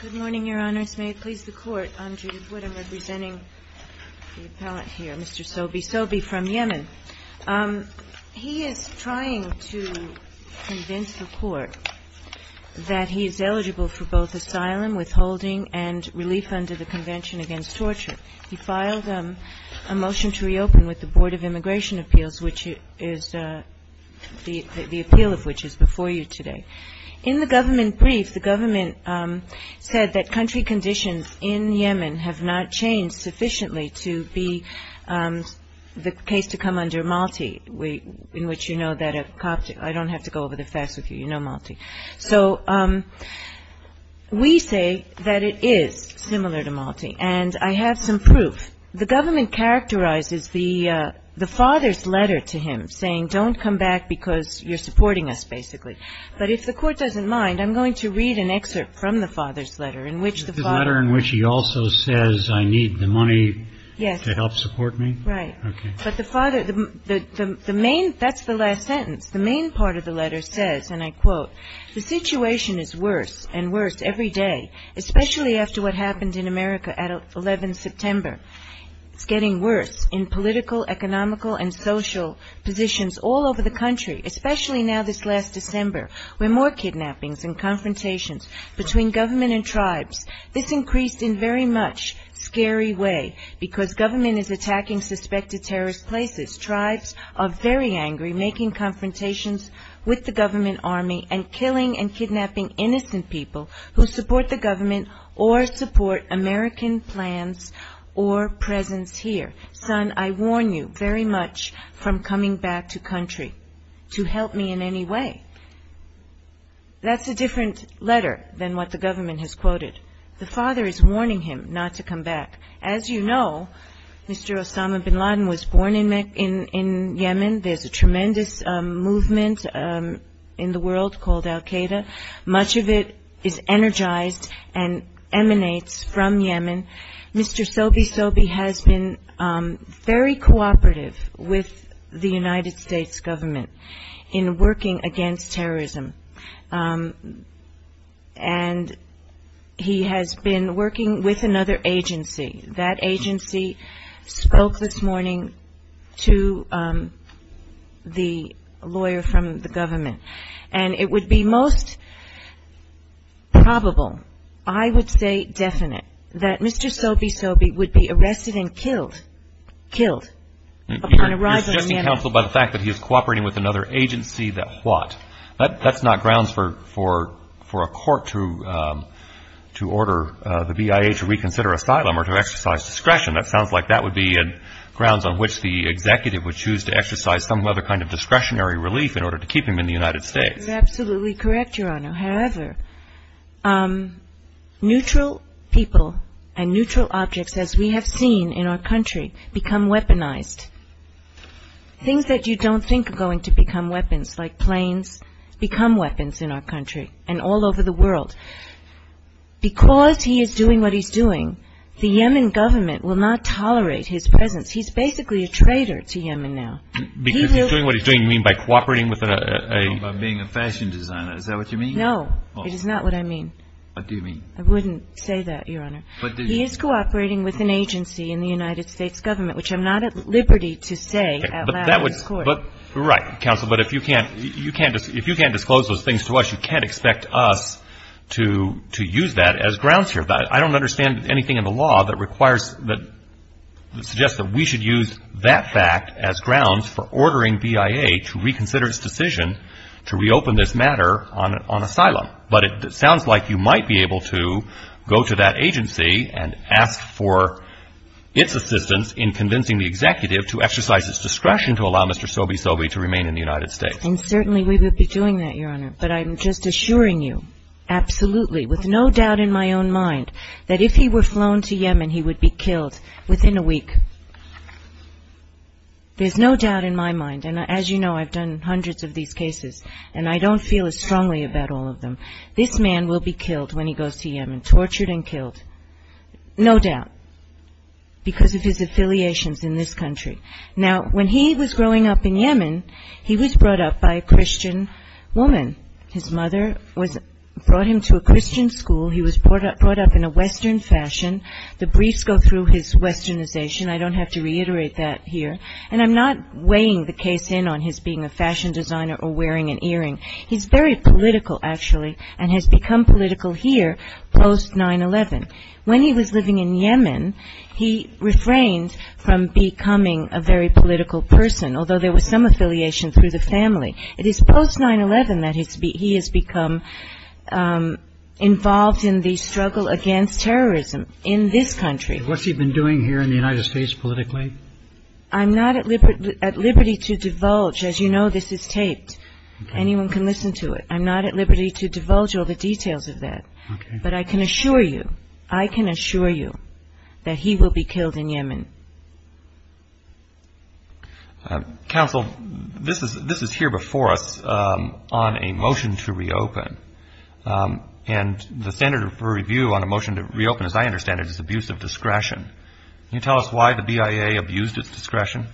Good morning, Your Honors. May it please the Court, I'm Judith Wood. I'm representing the appellant here, Mr. Sobi. Sobi from Yemen. He is trying to convince the Court that he is eligible for both asylum, withholding, and relief under the Convention Against Torture. He filed a motion to reopen with the Board of Immigration Appeals, which is the appeal of which is before you today. In the government brief, the government said that country conditions in Yemen have not changed sufficiently to be the case to come under Malti, in which you know that a cop... I don't have to go over the facts with you. You know Malti. So we say that it is similar to Malti, and I have some proof. The government characterizes the father's letter to him, saying, don't come back because you're supporting us, basically. But if the Court doesn't mind, I'm going to read an excerpt from the father's letter, in which the father... The letter in which he also says, I need the money to help support me? Yes. Right. But the father, the main, that's the last sentence. The main part of the letter says, and I quote, the situation is worse and worse every day, especially after what and social positions all over the country, especially now this last December, where more kidnappings and confrontations between government and tribes. This increased in very much scary way because government is attacking suspected terrorist places. Tribes are very angry, making confrontations with the government army and killing and kidnapping innocent people who support the government or support American plans or presence here. Son, I warn you very much from coming back to country to help me in any way. That's a different letter than what the government has quoted. The father is warning him not to come back. As you know, Mr. Osama bin Laden was born in Yemen. There's a tremendous movement in the world called Al-Qaeda. Much of it is energized and emanates from Yemen. Mr. Sobe Sobe has been very cooperative with the United States government in working against terrorism. And he has been working with another agency. That agency spoke this morning to the lawyer from the government. And it would be most probable, I would say definite, that Mr. Sobe Sobe would be arrested and killed, killed, upon arrival in Yemen. You're suggesting counsel by the fact that he is cooperating with another agency that what? That's not grounds for a court to order the BIA to reconsider asylum or to exercise discretion. That sounds like that would be grounds on which the executive would choose to exercise some other kind of discretionary relief in order to keep him in the United States. You're absolutely correct, Your Honor. However, neutral people and neutral objects, as we have seen in our country, become weaponized. Things that you don't think are going to become weapons, like planes, become weapons in our country and all over the world. Because he is doing what he's doing, the Yemen government will not tolerate his presence. He's basically a traitor to Yemen now. Because he's doing what he's doing, you mean by cooperating with a... By being a fashion designer. Is that what you mean? No, it is not what I mean. What do you mean? I wouldn't say that, Your Honor. He is cooperating with an agency in the United States government, which I'm not at liberty to say out loud in court. Right, counsel. But if you can't disclose those things to us, you can't expect us to use that as grounds here. I don't understand anything in the law that requires, that suggests that we should use that fact as grounds for ordering BIA to reconsider its decision to reopen this matter on asylum. But it sounds like you might be able to go to that agency and ask for its assistance in convincing the executive to exercise its discretion to allow Mr. Sobi Sobi to remain in the United States. And certainly we would be doing that, Your Honor. But I'm just assuring you, absolutely, with no doubt in my own mind, that if he were flown to Yemen, he would be killed within a week. There's no doubt in my mind, and as you know, I've done hundreds of these cases, and I don't feel as strongly about all of them. This man will be killed when he goes to Yemen, tortured and killed, no doubt, because of his affiliations in this country. Now, when he was growing up in Yemen, he was brought up by a Christian woman. His mother was brought him to a Christian school. He was brought up in a Western fashion. The briefs go through his Westernization. I don't have to reiterate that here. And I'm not weighing the case in on his being a fashion designer or wearing an earring. He's very political, actually, and has become political here post-9-11. When he was living in Yemen, he refrained from becoming a very political person, although there was some affiliation through the family. It is post-9-11 that he has become involved in the struggle against terrorism in this country. What's he been doing here in the United States politically? I'm not at liberty to divulge. As you know, this is taped. Anyone can listen to it. I'm not at liberty to divulge all the details of that. But I can assure you, I can assure you that he will be killed in Yemen. Counsel, this is here before us on a motion to reopen. And the standard for review on this motion is a 45-day period. Can you tell us why the BIA abused its discretion?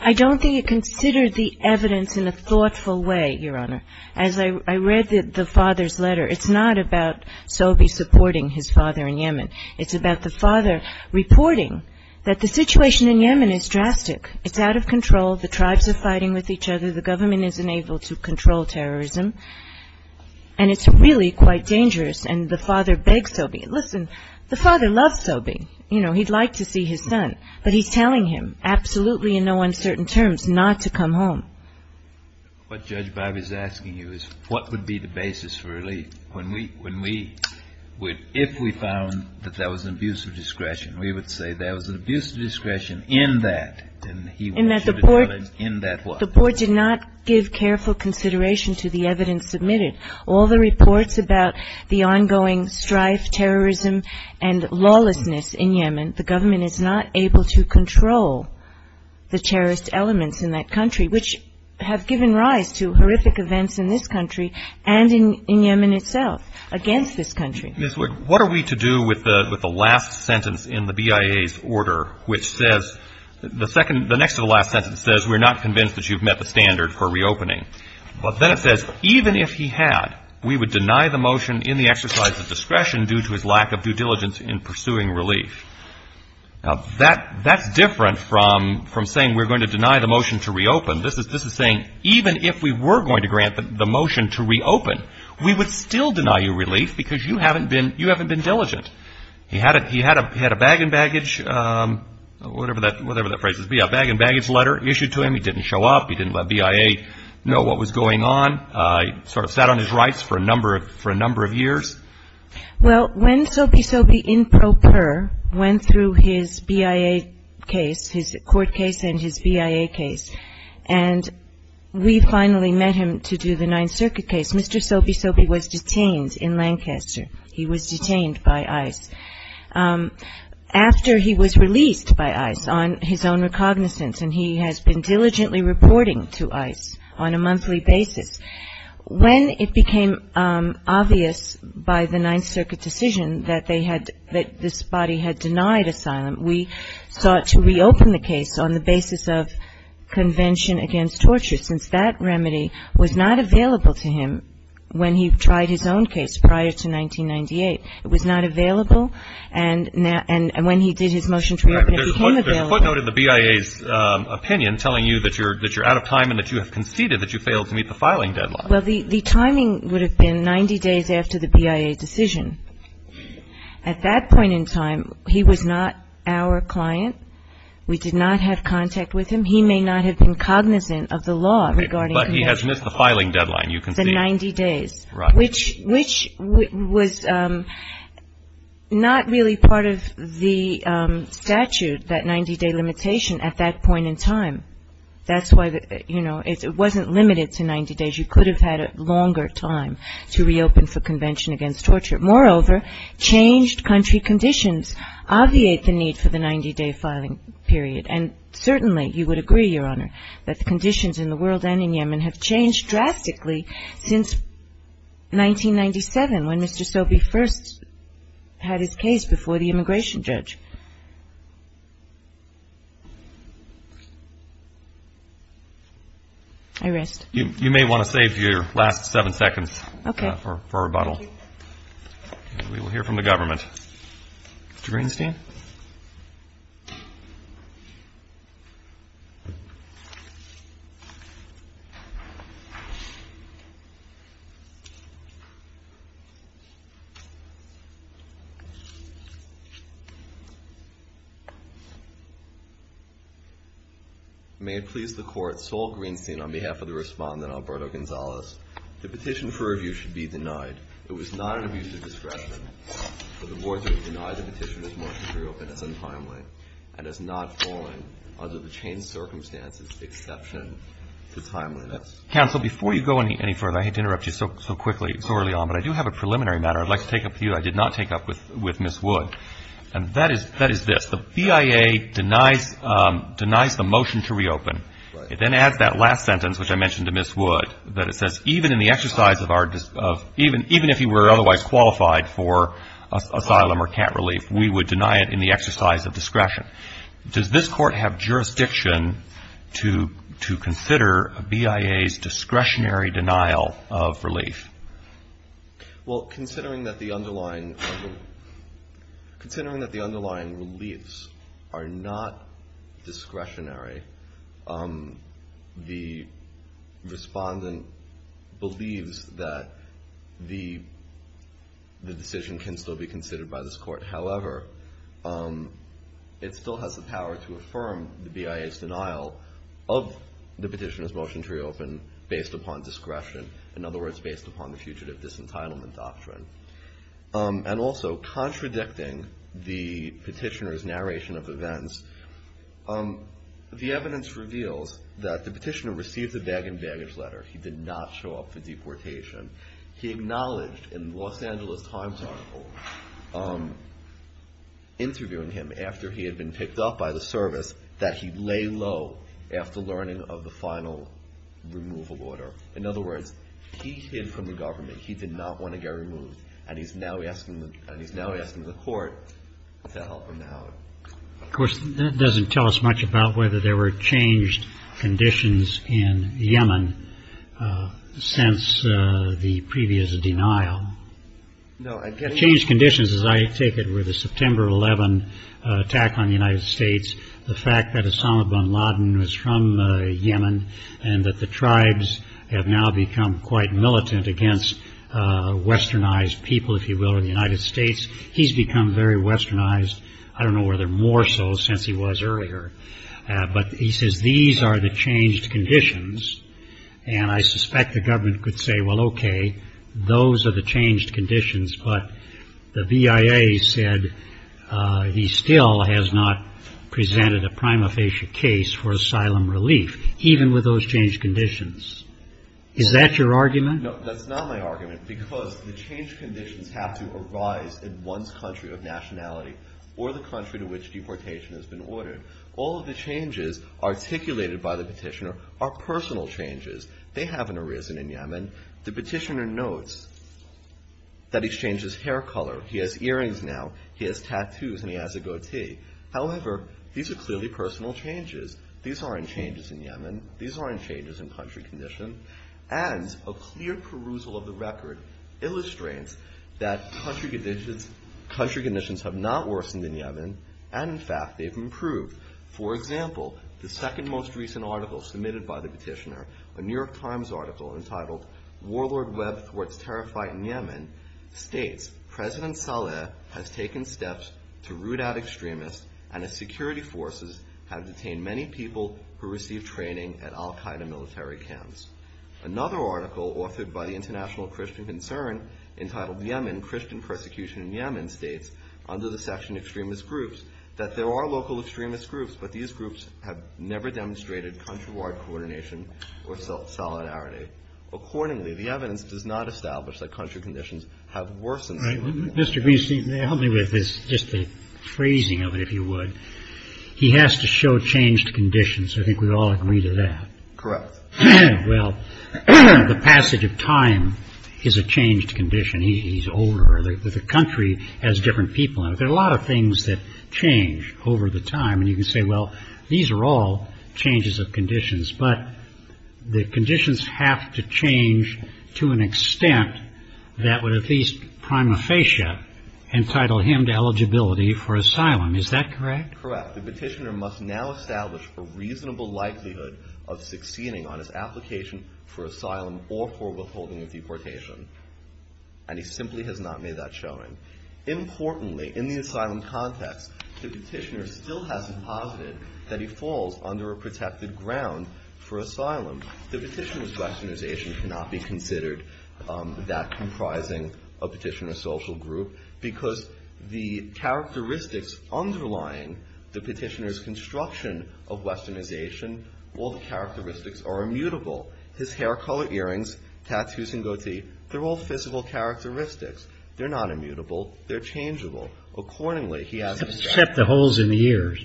I don't think it considered the evidence in a thoughtful way, Your Honor. As I read the father's letter, it's not about Sobe supporting his father in Yemen. It's about the father reporting that the situation in Yemen is drastic. It's out of control. The tribes are fighting with each other. The government isn't able to control terrorism. And it's really quite dangerous. And the father begs Sobe, listen, the father loves Sobe. You know, he'd like to see his son. But he's telling him, absolutely in no uncertain terms, not to come home. What Judge Bivey is asking you is what would be the basis for relief? When we – if we found that that was an abuse of discretion, we would say that was an abuse of discretion in that. And he would shoot his son in that way. The board did not give careful consideration to the evidence submitted. All the reports about the ongoing strife, terrorism, and lawlessness in Yemen, the government is not able to control the terrorist elements in that country, which have given rise to horrific events in this country and in Yemen itself against this country. Ms. Wood, what are we to do with the last sentence in the BIA's order, which says – the second – the next to the last sentence says we're not convinced that you've met the motion in the exercise of discretion due to his lack of due diligence in pursuing relief. Now, that's different from saying we're going to deny the motion to reopen. This is saying even if we were going to grant the motion to reopen, we would still deny you relief because you haven't been – you haven't been diligent. He had a – he had a bag and baggage – whatever that – whatever that phrase is – a bag and baggage letter issued to him. He didn't show up. He didn't let BIA know what was going on. He sort of sat on his rights for a number of – for a number of years. Well, when Sobi Sobi, in pro per, went through his BIA case, his court case and his BIA case, and we finally met him to do the Ninth Circuit case, Mr. Sobi Sobi was detained in Lancaster. He was detained by ICE. After he was released by ICE on his own recognizance, and he has been diligently reporting to ICE on a monthly basis, when it became obvious by the Ninth Circuit decision that they had – that this body had denied asylum, we sought to reopen the case on the basis of convention against torture, since that remedy was not available to him when he tried his own case prior to 1998. It was not available, and now – and when he did his motion to reopen, it became available. But there's a footnote in the BIA's opinion telling you that you're – that you're out of time and that you have conceded that you failed to meet the filing deadline. Well, the – the timing would have been 90 days after the BIA decision. At that point in time, he was not our client. We did not have contact with him. He may not have been cognizant of the law regarding – But he has missed the filing deadline, you concede. 90 days, which – which was not really part of the statute, that 90-day limitation at that point in time. That's why, you know, it wasn't limited to 90 days. You could have had a longer time to reopen for convention against torture. Moreover, changed country conditions obviate the need for the 90-day filing period. And certainly, you would agree, Your Honor, that the conditions in the world and in Yemen have changed drastically since 1997, when Mr. Sobey first had his case before the immigration judge. I rest. You may want to save your last seven seconds for rebuttal. Okay. Thank you. We will hear from the government. Mr. Greenstein? May it please the Court, Sol Greenstein, on behalf of the Respondent, Alberto Gonzales. The petition for review should be denied. It was not an abuse of discretion, for the board to have denied the petition as much as reopened is untimely and has not fallen under the changed circumstances, exception to timeliness. Counsel, before you go any further, I hate to interrupt you so quickly, so early on, but I do have a preliminary matter I'd like to take up with you I did not take up with Ms. Wood. And that is this. The BIA denies the motion to reopen. It then adds that last sentence, which I mentioned to Ms. Wood, that it says even in the exercise of our – even if you were otherwise qualified for asylum or camp relief, we would deny it in the exercise of discretion. Does this Court have jurisdiction to consider a BIA's discretionary denial of relief? Well, considering that the underlying – considering that the underlying reliefs are not discretionary, the Respondent believes that the decision can still be considered by this Court. However, it still has the power to affirm the BIA's denial of the petitioner's motion to reopen based upon discretion, in other words, based upon the Fugitive Disentitlement Doctrine. And also, contradicting the petitioner's narration of events, the evidence reveals that the petitioner received a bag and baggage letter. He did not show up for deportation. He acknowledged in the Los Angeles Times article, interviewing him after he had been picked up by the service, that he lay low after learning of the final removal order. In other words, he hid from the government. He did not want to get removed. And he's now asking – and he's now asking the Court to help him now. Of course, that doesn't tell us much about whether there were changed conditions in Yemen since the previous denial. Changed conditions, as I take it, were the September 11 attack on the United States, the fact that Osama bin Laden was from Yemen, and that the tribes have now become quite militant against westernized people, if you will, in the United States. He's become very westernized, I don't know whether more so, since he was earlier. But he says, these are the changed conditions. And I suspect the government could say, well, okay, those are the changed conditions, but the VIA said he still has not presented a prima facie case for asylum relief, even with those changed conditions. Is that your argument? No, that's not my argument, because the changed conditions have to arise in one country of nationality or the country to which deportation has been ordered. All of the changes articulated by the petitioner are personal changes. They haven't arisen in Yemen. The petitioner notes that he's changed his hair color, he has earrings now, he has tattoos, and he has a goatee. However, these are clearly personal changes. These aren't changes in Yemen. These aren't changes in country condition. And a clear perusal of the record illustrates that country conditions have not worsened in Yemen, and in fact, they've improved. For example, the second most recent article submitted by the petitioner, a New York Times article entitled Warlord Webb thwarts terror fight in Yemen, states, President Saleh has taken steps to root out extremists and his security forces have detained many people who receive training at Al-Qaeda military camps. Another article authored by the International Christian Concern entitled Yemen, Christian Persecution in Yemen, states under the section extremist groups that there are local extremist groups, but these groups have never demonstrated country ward coordination or solidarity. Accordingly, the evidence does not establish that country conditions have worsened in Yemen. Right. Mr. Greenstein, help me with this, just the phrasing of it, if you would. He has to show changed conditions. I think we all agree to that. Correct. Well, the passage of time is a changed condition. He's older. The country has different people. There are a lot of things that change over the time. And you can say, well, these are all changes of conditions. But the conditions have to change to an extent that would at least prima facie entitle him to eligibility for asylum. Is that correct? Correct. The petitioner must now establish a reasonable likelihood of succeeding on his application for asylum or for withholding of deportation. And he simply has not made that showing. Importantly, in the asylum context, the petitioner still hasn't posited that he falls under a protected ground for asylum. The petitioner's questionization cannot be considered that comprising a petitioner social group because the characteristics underlying the petitioner's construction of westernization, all the characteristics are immutable. His hair color, earrings, tattoos and goatee, they're all physical characteristics. They're not immutable. They're changeable. Accordingly, he hasn't... Except the holes in the ears.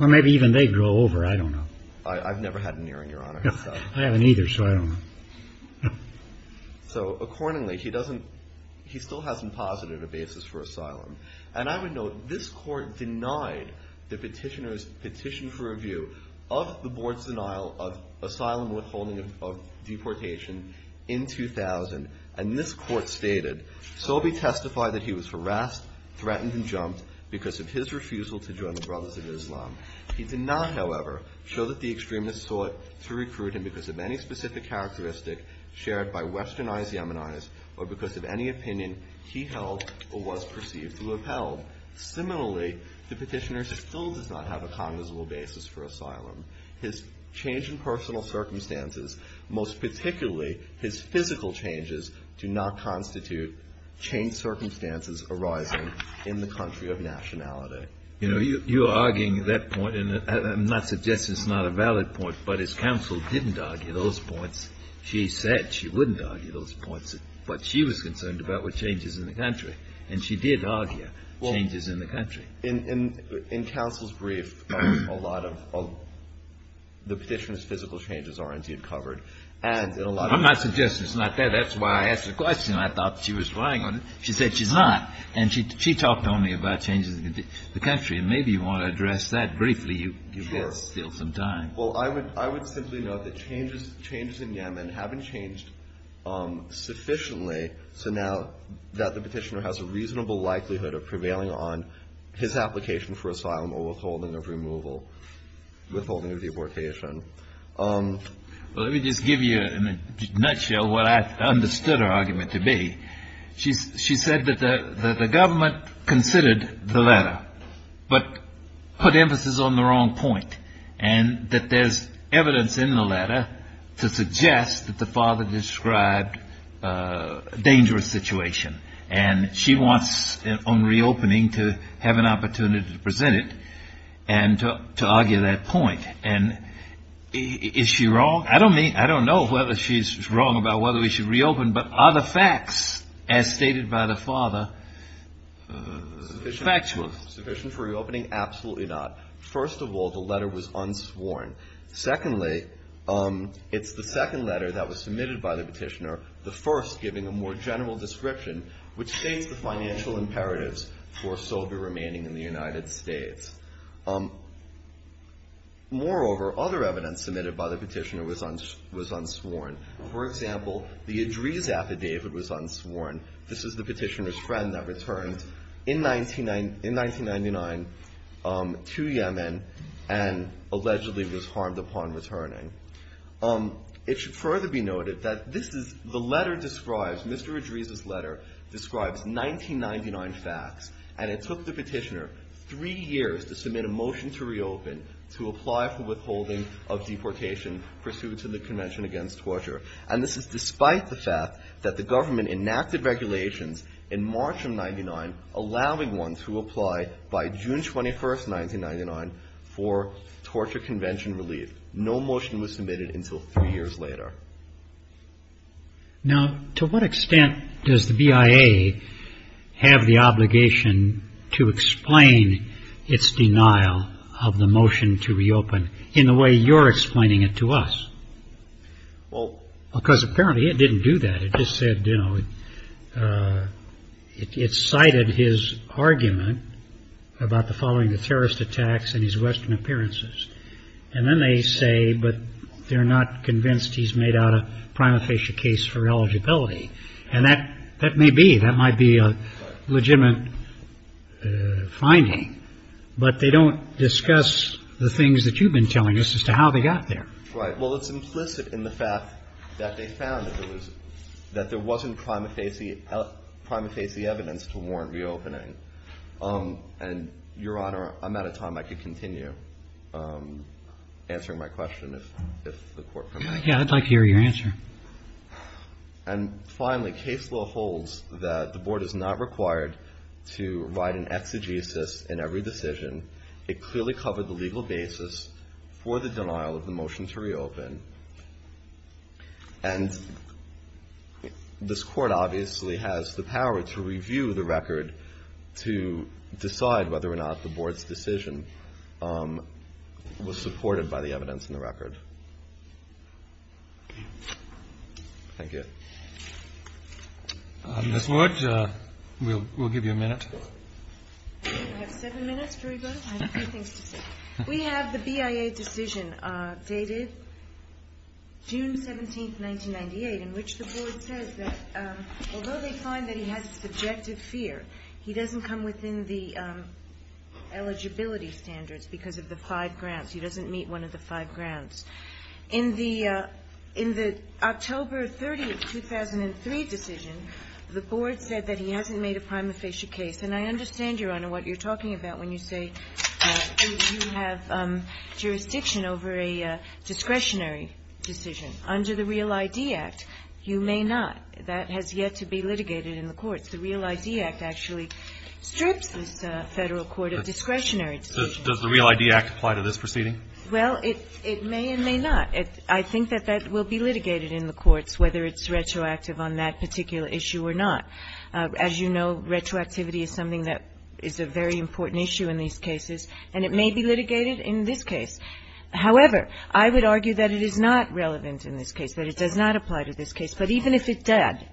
Or maybe even they grow over. I don't know. I've never had an earring, Your Honor. I haven't either, so I don't know. So accordingly, he doesn't, he still hasn't posited a basis for asylum. And I would note, this court denied the petitioner's petition for review of the board's denial of asylum withholding of deportation in 2000. And this court stated, Sobe testified that he was harassed, threatened and jumped because of his refusal to join the Brothers of Islam. He did not, however, show that the extremists sought to recruit him because of any specific characteristic shared by westernized Yemenis or because of any opinion he held or was perceived to have held. Similarly, the petitioner still does not have a cognizable basis for asylum. His change in personal circumstances, most particularly his physical changes, do not constitute changed circumstances arising in the country of nationality. You know, you are arguing that point, and I'm not suggesting it's not a valid point, but his counsel didn't argue those points. She said she wouldn't argue those points, but she was concerned about what changes in the country. And she did argue changes in the country. Well, in counsel's brief, a lot of the petitioner's physical changes are indeed covered. I'm not suggesting it's not there. That's why I asked the question. I thought she was relying on it. She said she's not. And she talked only about changes in the country. And maybe you want to address that briefly. You've got still some time. Well, I would simply note that changes in Yemen haven't changed sufficiently so now that the petitioner has a reasonable likelihood of prevailing on his application for asylum or withholding of removal, withholding of the abortation. Well, let me just give you in a nutshell what I understood her argument to be. She said that the government considered the letter but put emphasis on the wrong point and that there's evidence in the letter to suggest that the father described a dangerous situation. And she wants, on reopening, to have an opportunity to present it and to argue that point. And is she wrong? I don't know whether she's wrong about whether we should reopen, but are the facts as stated by the father factual? Sufficient for reopening? Absolutely not. First of all, the letter was unsworn. Secondly, it's the second letter that was submitted by the petitioner, the first giving a more general description, which states the financial imperatives for Sobe remaining in the United States. Moreover, other evidence submitted by the petitioner was unsworn. For example, the Idris affidavit was unsworn. This is the petitioner's friend that returned in 1999 to Yemen and allegedly was harmed upon returning. It should further be noted that this is the letter describes, Mr. Idris's letter describes 1999 facts, and it took the petitioner three years to submit a motion to reopen, to apply for withholding of deportation pursuant to the Convention Against Torture. And this is the letter that the government enacted regulations in March of 99, allowing one to apply by June 21st, 1999 for torture convention relief. No motion was submitted until three years later. Now to what extent does the BIA have the obligation to explain its denial of the motion to reopen in the way you're explaining it to us? Well, because apparently it didn't do that. It just said, you know, it cited his argument about the following terrorist attacks and his Western appearances. And then they say, but they're not convinced he's made out a prima facie case for eligibility. And that may be, that might be a legitimate finding, but they don't discuss the things that you've been telling us as to how they got there. Right. Well, it's implicit in the fact that they found that there wasn't prima facie evidence to warrant reopening. And Your Honor, I'm out of time. I could continue answering my question if the Court permitted. Yeah, I'd like to hear your answer. And finally, case law holds that the Board is not required to write an exegesis in every case to reopen. And this Court obviously has the power to review the record to decide whether or not the Board's decision was supported by the evidence in the record. Thank you. Ms. Wood, we'll give you a minute. I have seven minutes for you both. I have a few things to say. We have the BIA decision dated June 17, 1998, in which the Board says that although they find that he has subjective fear, he doesn't come within the eligibility standards because of the five grounds. He doesn't meet one of the five grounds. In the October 30, 2003 decision, the Board said that he hasn't made a prima facie case. And I understand, Your Honor, what you're talking about when you say you have jurisdiction over a discretionary decision. Under the REAL ID Act, you may not. That has yet to be litigated in the courts. The REAL ID Act actually strips this Federal court of discretionary decisions. Does the REAL ID Act apply to this proceeding? Well, it may and may not. I think that that will be litigated in the courts, whether it's retroactive on that particular issue or not. As you know, retroactivity is something that is a very important issue in these cases, and it may be litigated in this case. However, I would argue that it is not relevant in this case, that it does not apply to this case. But even if it does,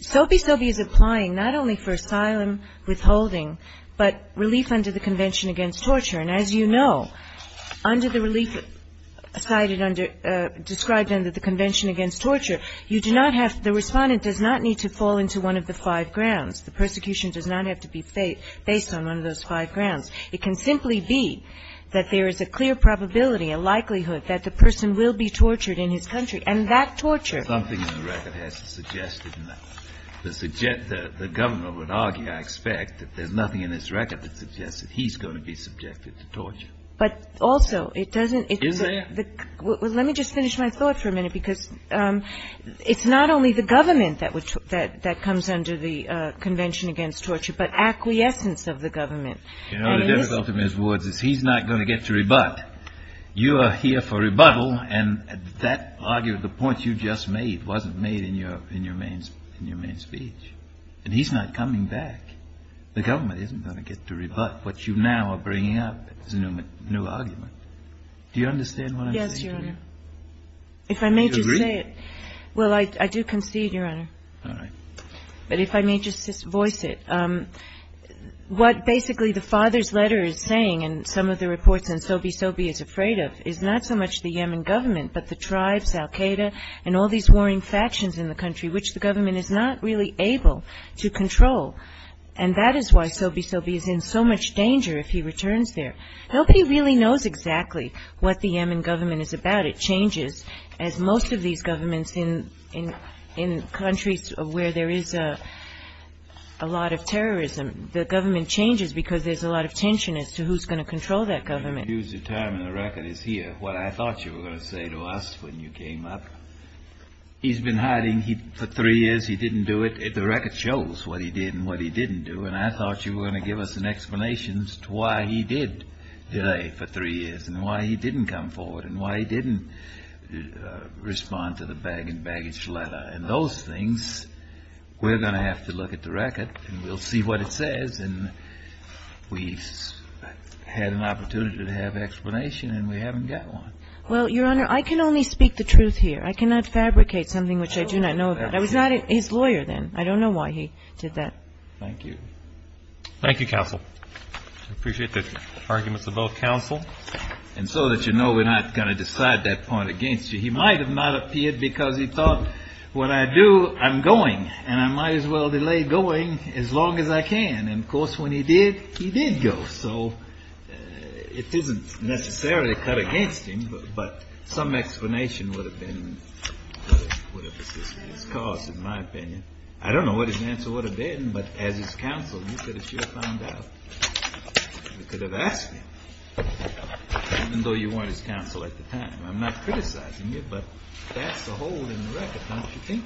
Sobe Sobe is applying not only for asylum withholding, but relief under the Convention Against Torture. And as you know, under the relief cited under, described under the Convention Against Torture, you do not have, the Respondent does not need to fall into one of the five grounds. The persecution does not have to be based on one of those five grounds. It can simply be that there is a clear probability, a likelihood, that the person will be tortured in his country, and that torture Something in the record has to suggest that the Governor would argue, I expect, that there's nothing in this record that suggests that he's going to be subjected to torture. But also, it doesn't Is there? Let me just finish my thought for a minute, because it's not only the government that comes under the Convention Against Torture, but acquiescence of the government. You know, the difficulty, Ms. Woods, is he's not going to get to rebut. You are here for rebuttal, and that argument, the point you just made, wasn't made in your main speech. And he's not coming back. The government isn't going to get to rebut what you now are bringing up as a new argument. Do you understand what I'm saying? Yes, Your Honor. Do you agree? If I may just say it. Well, I do concede, Your Honor. All right. But if I may just voice it. What basically the father's letter is saying, and some of the reports on Sobey Sobey is afraid of, is not so much the Yemen government, but the tribes, al-Qaeda, and all these warring factions in the country, which the Yemen government is capable to control. And that is why Sobey Sobey is in so much danger if he returns there. Nobody really knows exactly what the Yemen government is about. It changes, as most of these governments in countries where there is a lot of terrorism. The government changes because there's a lot of tension as to who's going to control that government. You've used the term, and the record is here. What I thought you were going to say to us when you came up, he's been hiding for three years. He didn't do it. The record shows what he did and what he didn't do. And I thought you were going to give us an explanation as to why he did today for three years, and why he didn't come forward, and why he didn't respond to the bag and baggage letter. And those things, we're going to have to look at the record, and we'll see what it says. And we've had an opportunity to have an explanation, and we haven't got one. Well, Your Honor, I can only speak the truth here. I cannot fabricate something which I do not know about. I was not his lawyer then. I don't know why he did that. Thank you. Thank you, counsel. I appreciate the arguments of both counsel. And so that you know we're not going to decide that point against you, he might have not appeared because he thought, when I do, I'm going. And I might as well delay going as long as I can. And of course, when he did, he did go. So it isn't necessarily cut against him, but some explanation would have been, would have assisted his cause, in my opinion. I don't know what his answer would have been, but as his counsel, you could have sure found out. You could have asked him, even though you weren't his counsel at the time. I'm not criticizing you, but that's a hole in the record, don't you think?